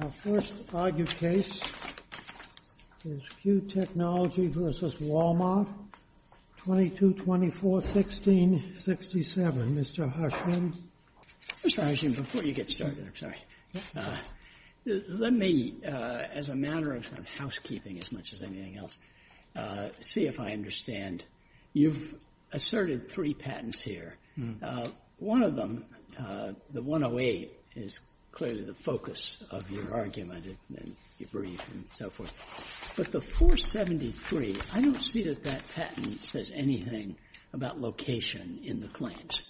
Our first argued case is Q Technologies v. Walmart, 22-24-16-67. Mr. Hirshman? Mr. Hirshman, before you get started, I'm sorry, let me, as a matter of housekeeping as much as anything else, see if I understand. You've asserted three patents here. One of them, the 108, is clearly the focus of your argument and debrief and so forth. But the 473, I don't see that that patent says anything about location in the claims,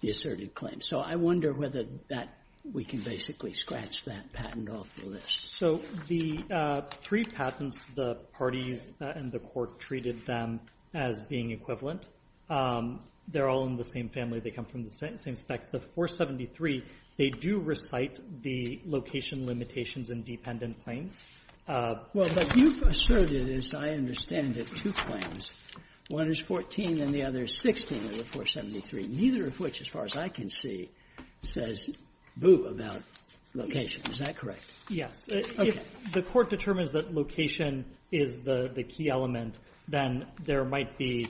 the asserted claims. So I wonder whether that, we can basically scratch that patent off the list. So the three patents, the parties and the court treated them as being equivalent. They're all in the same family. They come from the same spec. The 473, they do recite the location limitations in dependent claims. Well, but you've asserted, as I understand it, two claims. One is 14 and the other is 16 of the 473, neither of which, as far as I can see, says boo about location. Is that correct? Yes. Okay. If the court determines that location is the key element, then there might be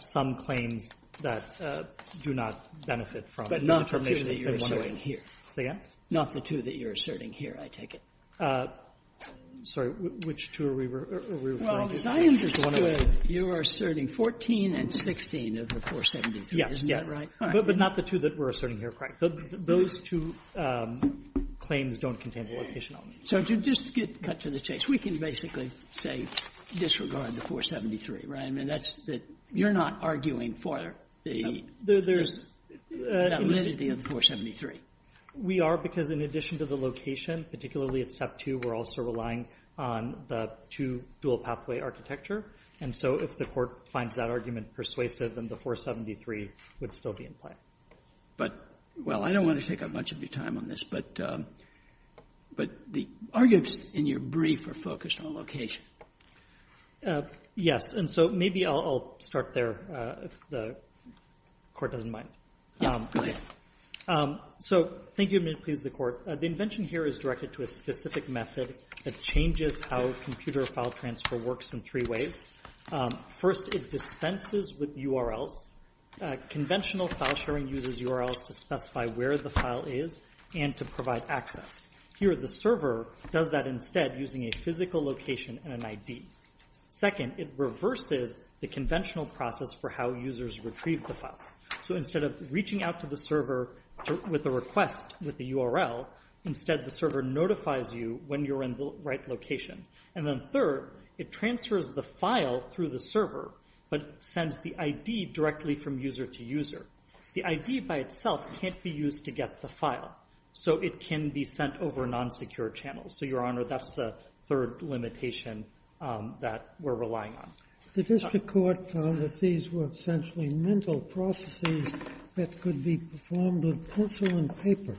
some claims that do not benefit from the determination of the 108. But not the two that you're asserting here. Say again? Not the two that you're asserting here, I take it. Sorry, which two are we referring to? Well, as I understand it, you are asserting 14 and 16 of the 473, isn't that right? Yes, yes, but not the two that we're asserting here, correct. Those two claims don't contain the location element. So to just get cut to the chase, we can basically say disregard the 473, right? I mean, that's the you're not arguing for the validity of the 473. We are, because in addition to the location, particularly at Step 2, we're also relying on the two-dual-pathway architecture, and so if the court finds that argument persuasive, then the 473 would still be in play. But, well, I don't want to take up much of your time on this, but the arguments in your brief are focused on location. Yes, and so maybe I'll start there, if the court doesn't mind. Yeah, go ahead. So thank you, and may it please the Court, the invention here is directed to a specific method that changes how computer file transfer works in three ways. First, it dispenses with URLs. Conventional file sharing uses URLs to specify where the file is and to provide access. Here, the server does that instead using a physical location and an ID. Second, it reverses the conventional process for how users retrieve the files. So instead of reaching out to the server with a request with the URL, instead the server notifies you when you're in the right location. And then third, it transfers the file through the server, but sends the ID directly from user to user. The ID by itself can't be used to get the file, so it can be sent over non-secure channels. So, Your Honor, that's the third limitation that we're relying on. The district court found that these were essentially mental processes that could be performed with pencil and paper,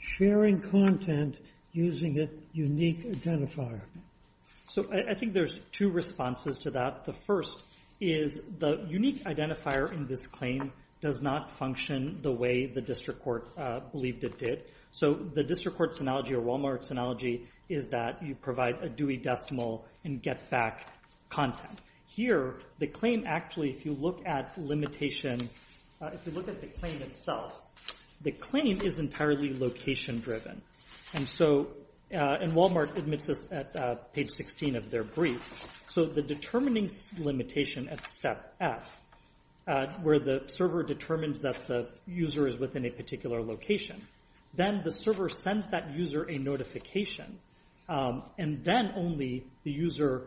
sharing content using a unique identifier. So I think there's two responses to that. The first is the unique identifier in this claim does not function the way the district court believed it did. So the district court's analogy or Walmart's analogy is that you provide a Dewey decimal and get back content. Here, the claim actually, if you look at limitation, if you look at the claim itself, the claim is entirely location-driven. And so, and Walmart admits this at page 16 of their brief. So the determining limitation at step F, where the server determines that the user is within a particular location, then the server sends that user a notification. And then only the user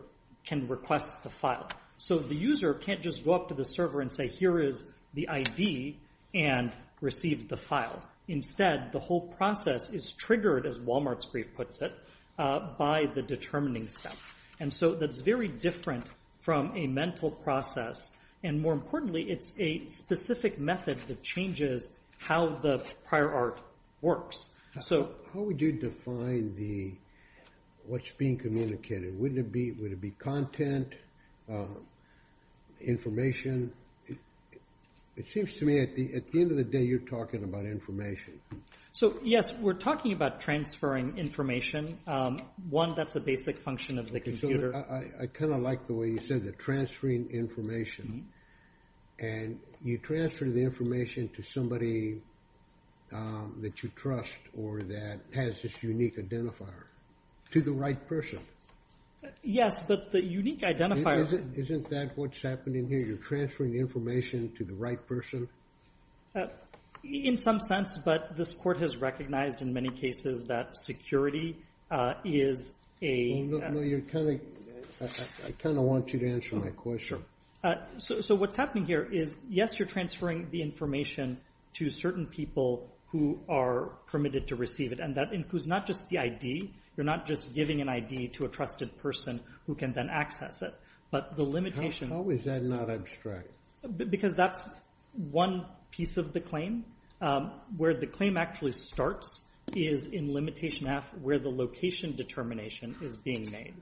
can request the file. So the user can't just go up to the server and say, here is the ID, and receive the file. Instead, the whole process is triggered, as Walmart's brief puts it, by the determining step. And so that's very different from a mental process. And more importantly, it's a specific method that changes how the prior art works. So how would you define what's being communicated? Would it be content, information? It seems to me, at the end of the day, you're talking about information. So yes, we're talking about transferring information. One, that's a basic function of the computer. I kind of like the way you said that, transferring information. And you transfer the information to somebody that you trust, or that has this unique identifier, to the right person. Yes, but the unique identifier- Isn't that what's happening here? You're transferring the information to the right person? In some sense, but this court has recognized, in many cases, that security is a- I kind of want you to answer my question. So what's happening here is, yes, you're transferring the information to certain people who are permitted to receive it. And that includes not just the ID. You're not just giving an ID to a trusted person who can then access it. But the limitation- How is that not abstract? Because that's one piece of the claim. Where the claim actually starts is in limitation F, where the location determination is being made.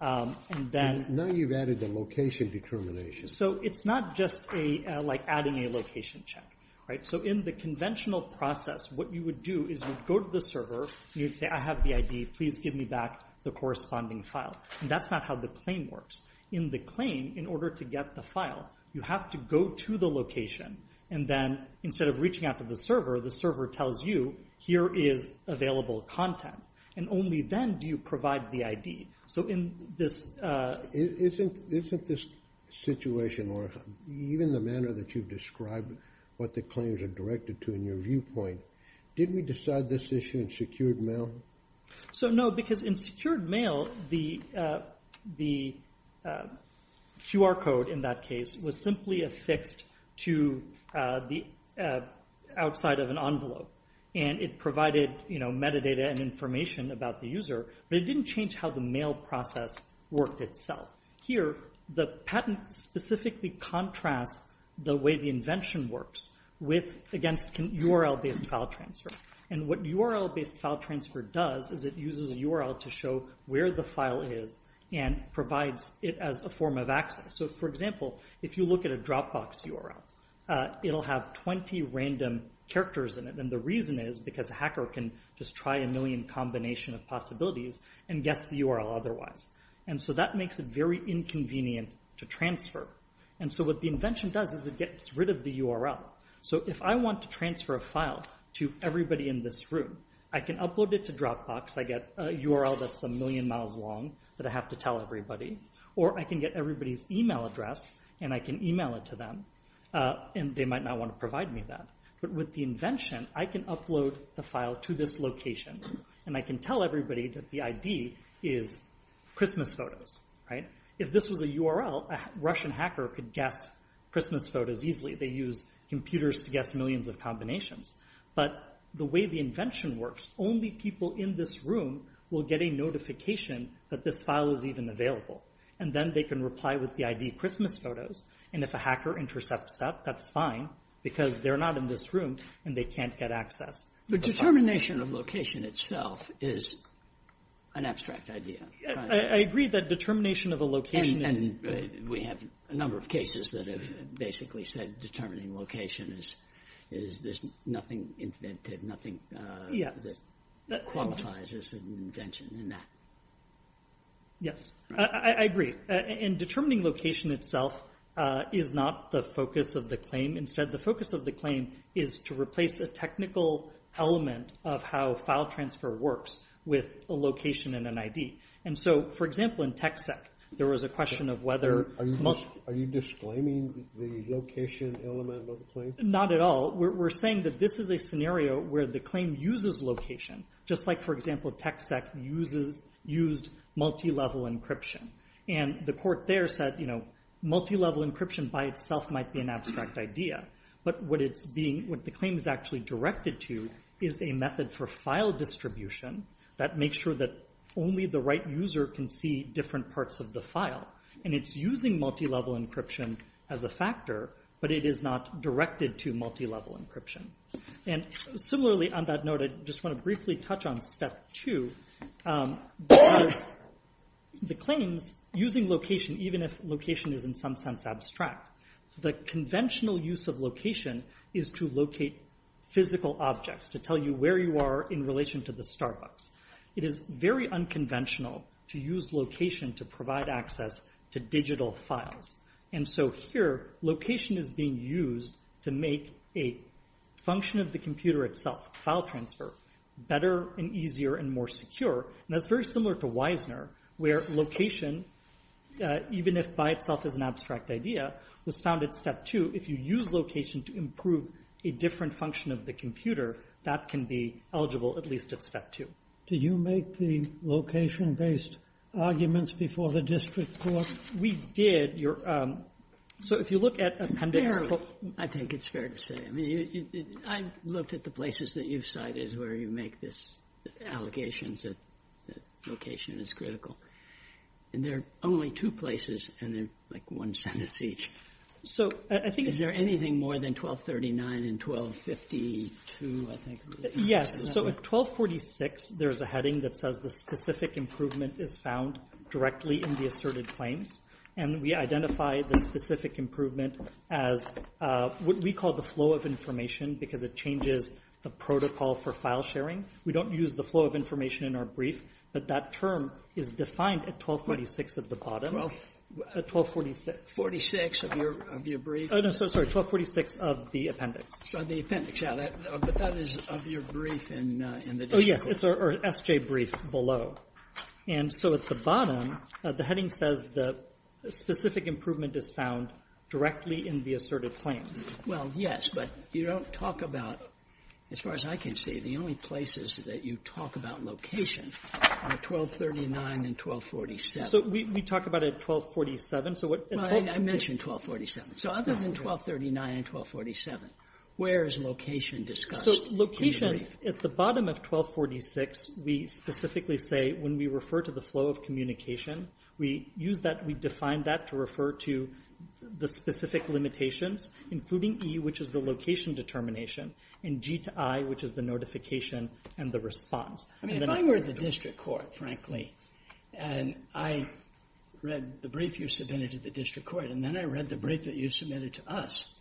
And then- Now you've added the location determination. So it's not just like adding a location check, right? So in the conventional process, what you would do is you'd go to the server, and you'd say, I have the ID. Please give me back the corresponding file. And that's not how the claim works. In the claim, in order to get the file, you have to go to the location. And then instead of reaching out to the server, the server tells you, here is available content. And only then do you provide the ID. So in this- Isn't this situation, or even the manner that you've described what the claims are directed to in your viewpoint, did we decide this issue in secured mail? So no, because in secured mail, the QR code in that case was simply affixed to the outside of an envelope. And it provided metadata and information about the user, but it didn't change how the mail process worked itself. Here, the patent specifically contrasts the way the invention works against URL-based file transfer. And what URL-based file transfer does is it uses a URL to show where the file is and provides it as a form of access. So for example, if you look at a Dropbox URL, it'll have 20 random characters in it, and the reason is because a hacker can just try a million combination of possibilities and guess the URL otherwise. And so that makes it very inconvenient to transfer. And so what the invention does is it gets rid of the URL. So if I want to transfer a file to everybody in this room, I can upload it to Dropbox, I get a URL that's a million miles long that I have to tell everybody, or I can get everybody's email address and I can email it to them, and they might not want to provide me that. But with the invention, I can upload the file to this location, and I can tell everybody that the ID is Christmas photos. If this was a URL, a Russian hacker could guess Christmas photos easily. They use computers to guess millions of combinations. But the way the invention works, only people in this room will get a notification that this file is even available. And then they can reply with the ID Christmas photos, and if a hacker intercepts that, that's fine, because they're not in this room, and they can't get access. But determination of location itself is an abstract idea. I agree that determination of a location is... We have a number of cases that have basically said determining location is, there's nothing invented, nothing that qualifies as an invention in that. Yes, I agree. And determining location itself is not the focus of the claim. Instead, the focus of the claim is to replace a technical element of how file transfer works with a location and an ID. And so, for example, in TechSec, there was a question of whether... Are you disclaiming the location element of the claim? Not at all. We're saying that this is a scenario where the claim uses location, just like, for example, TechSec used multi-level encryption. And the court there said, multi-level encryption by itself might be an abstract idea. But what the claim is actually directed to is a method for file distribution that makes sure that only the right user can see different parts of the file. And it's using multi-level encryption as a factor, but it is not directed to multi-level encryption. And similarly, on that note, I just want to briefly touch on step two, because the claims using location, even if location is in some sense abstract, the conventional use of location is to locate physical objects, to tell you where you are in relation to the Starbucks. It is very unconventional to use location to provide access to digital files. And so here, location is being used to make a function of the computer itself, file transfer, better and easier and more secure. And that's very similar to Wisner, where location, even if by itself is an abstract idea, was found at step two. If you use location to improve a different function of the computer, that can be eligible at least at step two. Did you make the location-based arguments before the district court? No, we did. So if you look at Appendix 4. I think it's fair to say. I looked at the places that you've cited where you make these allegations that location is critical. And there are only two places, and they're like one sentence each. So is there anything more than 1239 and 1252, I think? Yes. So at 1246, there is a heading that says the specific improvement is found directly in the asserted claims. And we identify the specific improvement as what we call the flow of information because it changes the protocol for file sharing. We don't use the flow of information in our brief, but that term is defined at 1246 at the bottom. At 1246. 1246 of your brief? Oh, no. Sorry. 1246 of the appendix. Oh, the appendix. Yeah. But that is of your brief in the district court. Oh, yes. It's our SJ brief below. And so at the bottom, the heading says the specific improvement is found directly in the asserted claims. Well, yes. But you don't talk about, as far as I can see, the only places that you talk about location are 1239 and 1247. So we talk about it at 1247. Well, I mentioned 1247. So other than 1239 and 1247, where is location discussed in your brief? So location, at the bottom of 1246, we specifically say when we refer to the flow of communication, we use that, we define that to refer to the specific limitations, including E, which is the location determination, and G to I, which is the notification and the response. I mean, if I were the district court, frankly, and I read the brief you submitted to the district court, and then I read the brief that you submitted to us,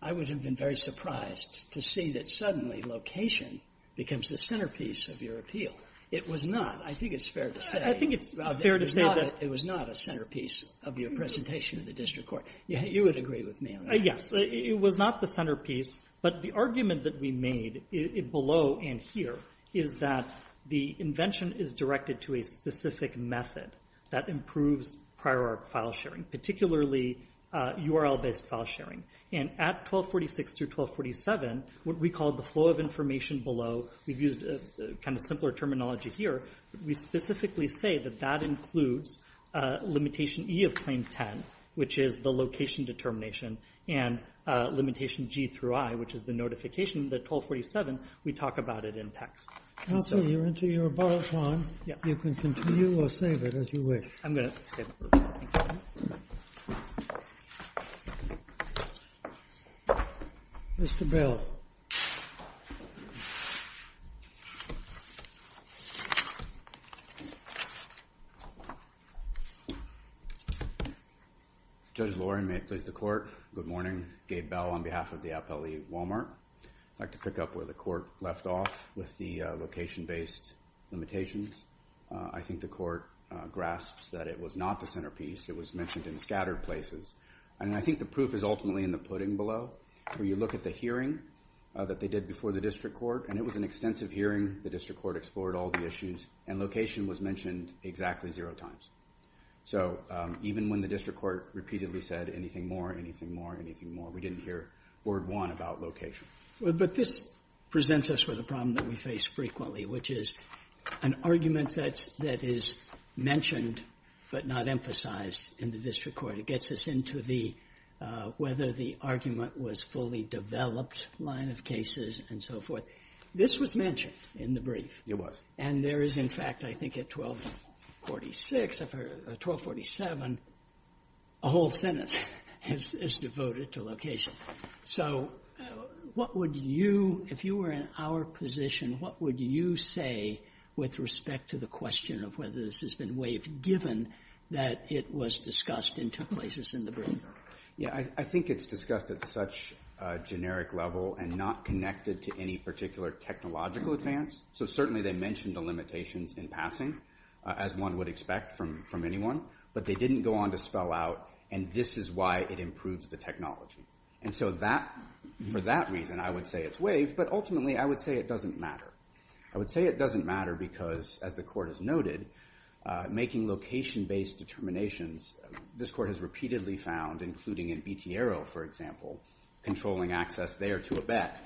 I would have been very surprised to see that suddenly location becomes the centerpiece of your appeal. It was not. I think it's fair to say. I think it's fair to say that it was not a centerpiece of your presentation to the district court. You would agree with me on that. Yes. It was not the centerpiece. But the argument that we made below and here is that the invention is directed to a specific method that improves prior file sharing, particularly URL-based file sharing. And at 1246 through 1247, what we call the flow of information below, we've used a kind of simpler terminology here, but we specifically say that that includes limitation E of claim 10, which is the location determination, and limitation G through I, which is the notification that 1247, we talk about it in text. Counselor, you're into your bottle of wine. You can continue or save it as you wish. I'm going to save it. Mr. Bell. Judge Lorin, may it please the court. Good morning. Gabe Bell on behalf of the Appellee Walmart. I'd like to pick up where the court left off with the location-based limitations. I think the court grasps that it was not the centerpiece. It was mentioned in scattered places. And I think the proof is ultimately in the pudding below, where you look at the hearing that they did before the district court, and it was an extensive hearing. The district court explored all the issues, and location was mentioned exactly zero times. So even when the district court repeatedly said anything more, anything more, anything more, we didn't hear word one about location. But this presents us with a problem that we face frequently, which is an argument that is mentioned but not emphasized in the district court. It gets us into the whether the argument was fully developed line of cases and so forth. This was mentioned in the brief. It was. And there is, in fact, I think at 1246, 1247, a whole sentence is devoted to location. So what would you, if you were in our position, what would you say with respect to the question of whether this has been waived, given that it was discussed in two places in the brief? Yeah. I think it's discussed at such a generic level and not connected to any particular technological advance. So certainly they mentioned the limitations in passing, as one would expect from anyone. But they didn't go on to spell out, and this is why it improves the technology. And so that, for that reason, I would say it's waived. But ultimately, I would say it doesn't matter. I would say it doesn't matter because, as the court has noted, making location-based determinations, this court has repeatedly found, including in Bitiero, for example, controlling access there to a bet,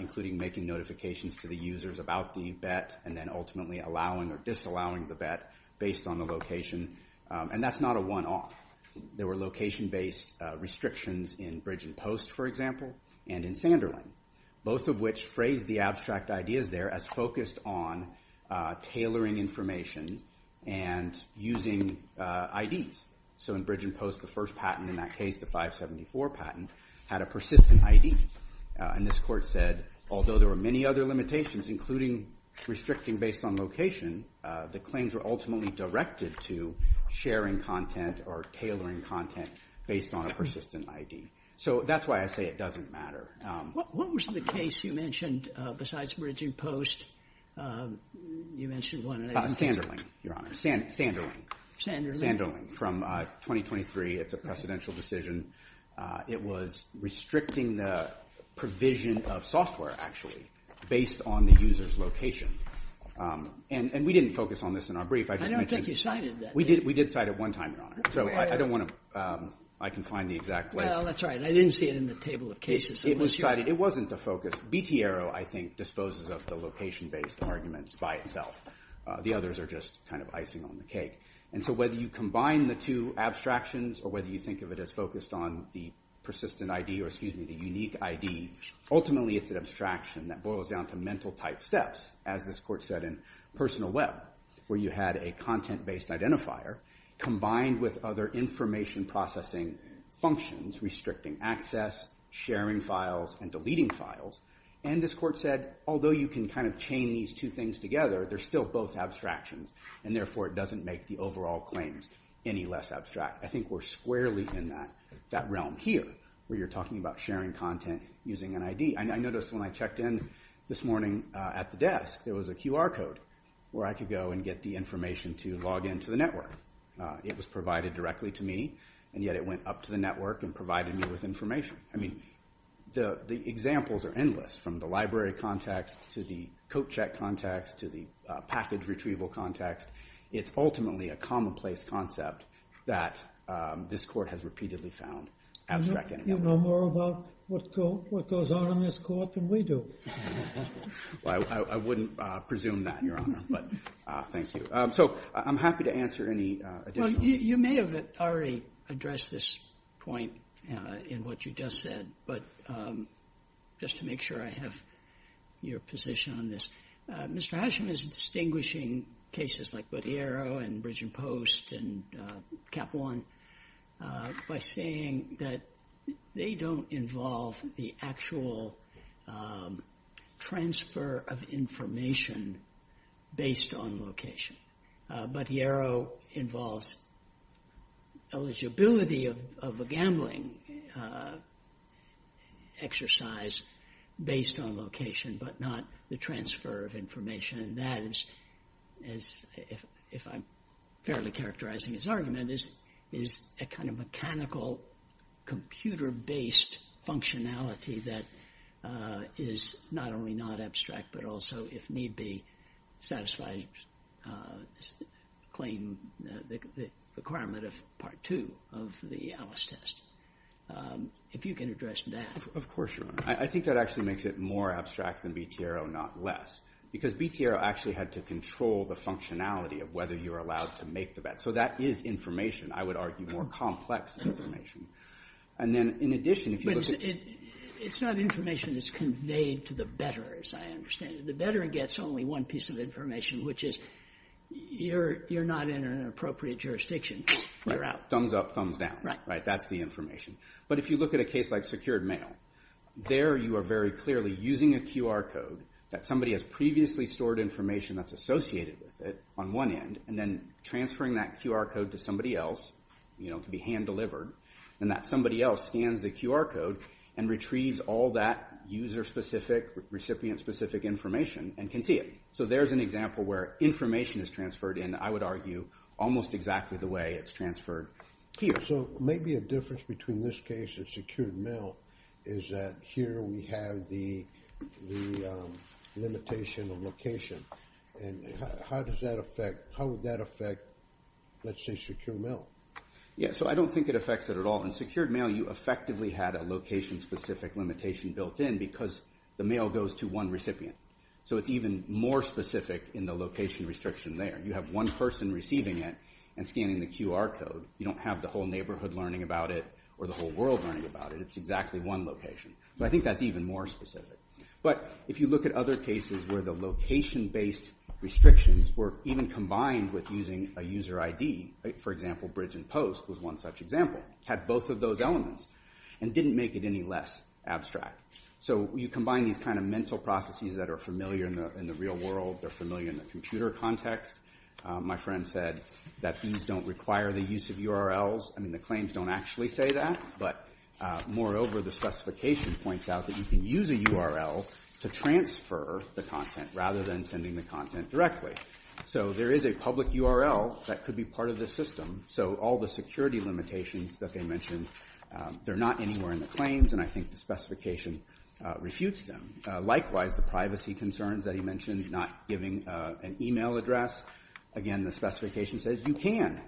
including making notifications to the users about the bet and then ultimately allowing or disallowing the bet based on the location. And that's not a one-off. There were location-based restrictions in Bridge and Post, for example, and in Sanderling, both of which phrased the abstract ideas there as focused on tailoring information and using IDs. So in Bridge and Post, the first patent in that case, the 574 patent, had a persistent ID. And this court said, although there were many other limitations, including restricting based on location, the claims were ultimately directed to sharing content or tailoring content based on a persistent ID. So that's why I say it doesn't matter. What was the case you mentioned besides Bridge and Post? You mentioned one. Sanderling, Your Honor. Sanderling. Sanderling. Sanderling from 2023. It's a precedential decision. It was restricting the provision of software, actually, based on the user's location. And we didn't focus on this in our brief. I don't think you cited that. We did cite it one time, Your Honor. So I don't want to – I can find the exact list. Well, that's right. But I didn't see it in the table of cases. It was cited. It wasn't the focus. B.T. Arrow, I think, disposes of the location-based arguments by itself. The others are just kind of icing on the cake. And so whether you combine the two abstractions or whether you think of it as focused on the persistent ID or, excuse me, the unique ID, ultimately it's an abstraction that boils down to mental-type steps, as this court said in Personal Web, where you had a content-based combined with other information-processing functions, restricting access, sharing files, and deleting files. And this court said, although you can kind of chain these two things together, they're still both abstractions, and therefore it doesn't make the overall claims any less abstract. I think we're squarely in that realm here, where you're talking about sharing content using an ID. I noticed when I checked in this morning at the desk, there was a QR code where I could go and get the information to log into the network. It was provided directly to me, and yet it went up to the network and provided me with information. I mean, the examples are endless, from the library context to the coat-check context to the package-retrieval context. It's ultimately a commonplace concept that this court has repeatedly found abstract in it. You know more about what goes on in this court than we do. Well, I wouldn't presume that, Your Honor, but thank you. So I'm happy to answer any additional questions. Well, you may have already addressed this point in what you just said, but just to make sure I have your position on this, Mr. Hashim is distinguishing cases like Bottiero and Capone by saying that they don't involve the actual transfer of information based on location. Bottiero involves eligibility of a gambling exercise based on location, but not the transfer of information. And that is, if I'm fairly characterizing his argument, is a kind of mechanical computer-based functionality that is not only not abstract, but also, if need be, satisfies the claim, the requirement of Part 2 of the Alice test. If you can address that. Of course, Your Honor. I think that actually makes it more abstract than Bottiero, not less. Because Bottiero actually had to control the functionality of whether you're allowed to make the bet. So that is information. I would argue more complex information. And then, in addition, if you look at... But it's not information that's conveyed to the better, as I understand it. The better gets only one piece of information, which is you're not in an appropriate jurisdiction. You're out. Thumbs up, thumbs down. Right. That's the information. But if you look at a case like secured mail, there you are very clearly using a QR code that somebody has previously stored information that's associated with it on one end, and then transferring that QR code to somebody else. It can be hand-delivered. And that somebody else scans the QR code and retrieves all that user-specific, recipient-specific information and can see it. So there's an example where information is transferred in, I would argue, almost exactly the way it's transferred here. So maybe a difference between this case and secured mail is that here we have the limitation of location. And how does that affect... How would that affect, let's say, secured mail? Yeah, so I don't think it affects it at all. In secured mail, you effectively had a location-specific limitation built in because the mail goes to one recipient. So it's even more specific in the location restriction there. You have one person receiving it and scanning the QR code. You don't have the whole neighborhood learning about it or the whole world learning about it. It's exactly one location. So I think that's even more specific. But if you look at other cases where the location-based restrictions were even combined with using a user ID, for example, Bridge and Post was one such example. It had both of those elements and didn't make it any less abstract. So you combine these kind of mental processes that are familiar in the real world, they're familiar in the computer context. My friend said that these don't require the use of URLs. I mean, the claims don't actually say that. But moreover, the specification points out that you can use a URL to transfer the content rather than sending the content directly. So there is a public URL that could be part of this system. So all the security limitations that they mentioned, they're not anywhere in the claims, and I think the specification refutes them. Likewise, the privacy concerns that he mentioned, not giving an e-mail address. Again, the specification says you can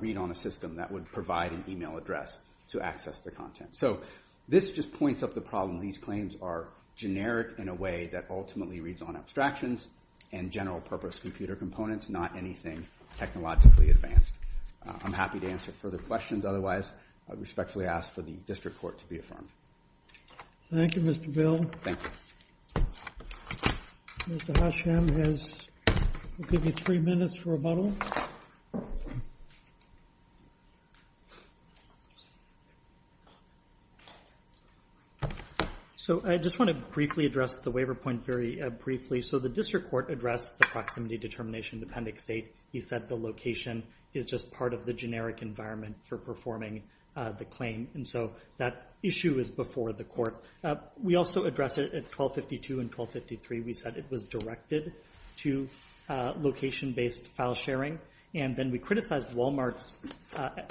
read on a system that would provide an e-mail address to access the content. So this just points up the problem. These claims are generic in a way that ultimately reads on abstractions and general-purpose computer components, not anything technologically advanced. I'm happy to answer further questions. Otherwise, I respectfully ask for the district court to be affirmed. Thank you, Mr. Bill. Thank you. Mr. Hasham will give you three minutes for rebuttal. So I just want to briefly address the waiver point very briefly. So the district court addressed the proximity determination appendix 8. He said the location is just part of the generic environment for performing the claim. And so that issue is before the court. We also addressed it at 1252 and 1253. We said it was directed to location-based file sharing. And then we criticized Walmart's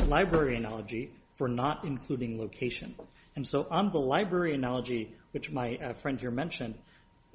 library analogy for not including location. And so on the library analogy, which my friend here mentioned,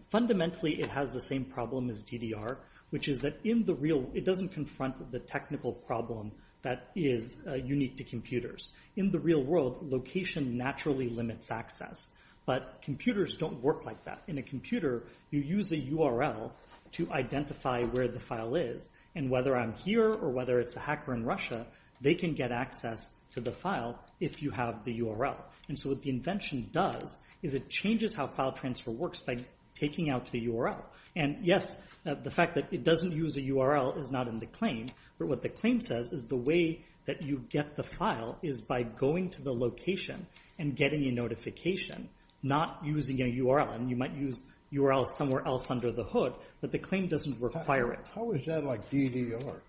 fundamentally it has the same problem as DDR, which is that it doesn't confront the technical problem that is unique to computers. In the real world, location naturally limits access. But computers don't work like that. In a computer, you use a URL to identify where the file is. And whether I'm here or whether it's a hacker in Russia, they can get access to the file if you have the URL. And so what the invention does is it changes how file transfer works by taking out the URL. And, yes, the fact that it doesn't use a URL is not in the claim. But what the claim says is the way that you get the file is by going to the location and getting a notification, not using a URL. And you might use URLs somewhere else under the hood, but the claim doesn't require it. How is that like DDR?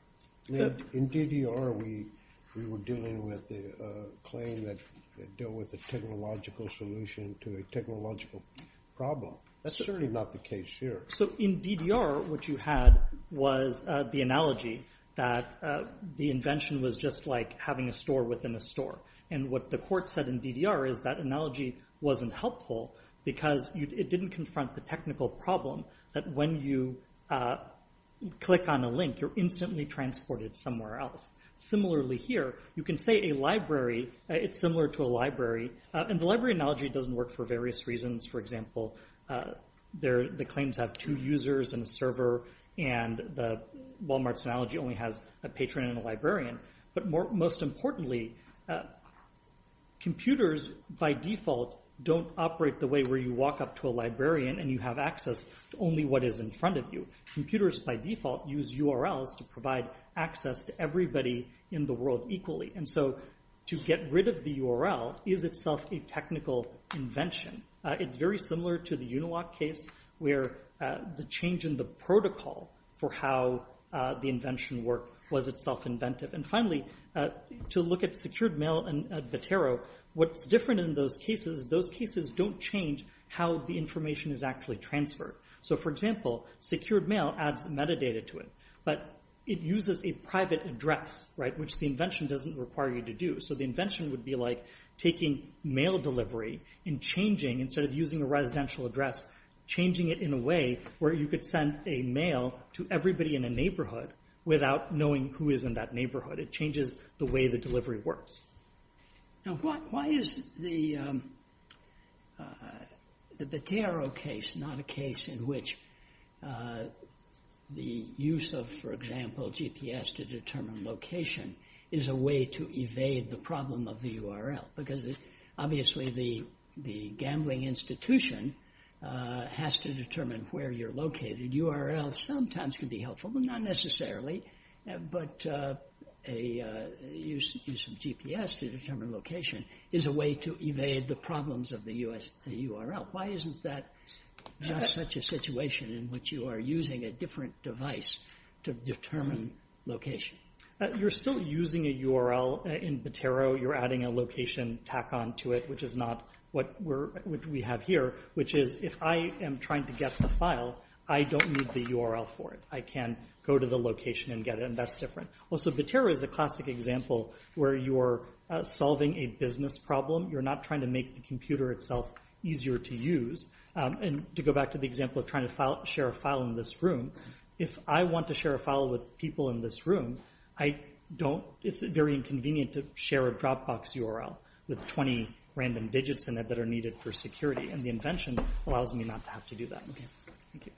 In DDR, we were dealing with a claim that dealt with a technological solution to a technological problem. That's certainly not the case here. So in DDR, what you had was the analogy that the invention was just like having a store within a store. And what the court said in DDR is that analogy wasn't helpful because it didn't confront the technical problem that when you click on a link, you're instantly transported somewhere else. Similarly here, you can say a library, it's similar to a library, and the library analogy doesn't work for various reasons. For example, the claims have two users and a server, and the Walmart's analogy only has a patron and a librarian. But most importantly, computers by default don't operate the way where you walk up to a librarian and you have access to only what is in front of you. Computers by default use URLs to provide access to everybody in the world equally. And so to get rid of the URL is itself a technical invention. It's very similar to the Unilock case where the change in the protocol for how the invention worked was itself inventive. And finally, to look at secured mail and Votero, what's different in those cases, those cases don't change how the information is actually transferred. So for example, secured mail adds metadata to it, but it uses a private address, right, which the invention doesn't require you to do. So the invention would be like taking mail delivery and changing, instead of using a residential address, changing it in a way where you could send a mail to everybody in a neighborhood without knowing who is in that neighborhood. It changes the way the delivery works. Now, why is the Votero case not a case in which the use of, for example, GPS to determine location is a way to evade the problem of the URL? Because obviously the gambling institution has to determine where you're located. URLs sometimes can be helpful, but not necessarily. But a use of GPS to determine location is a way to evade the problems of the URL. Why isn't that just such a situation in which you are using a different device to determine location? You're still using a URL in Votero. You're adding a location tack-on to it, which is not what we have here, which is if I am trying to get the file, I don't need the URL for it. I can go to the location and get it, and that's different. Also, Votero is the classic example where you're solving a business problem. You're not trying to make the computer itself easier to use. And to go back to the example of trying to share a file in this room, if I want to share a file with people in this room, it's very inconvenient to share a Dropbox URL with 20 random digits in it that are needed for security. And the invention allows me not to have to do that. Thank you.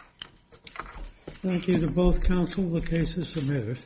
Thank you to both counsel. The case is submitted.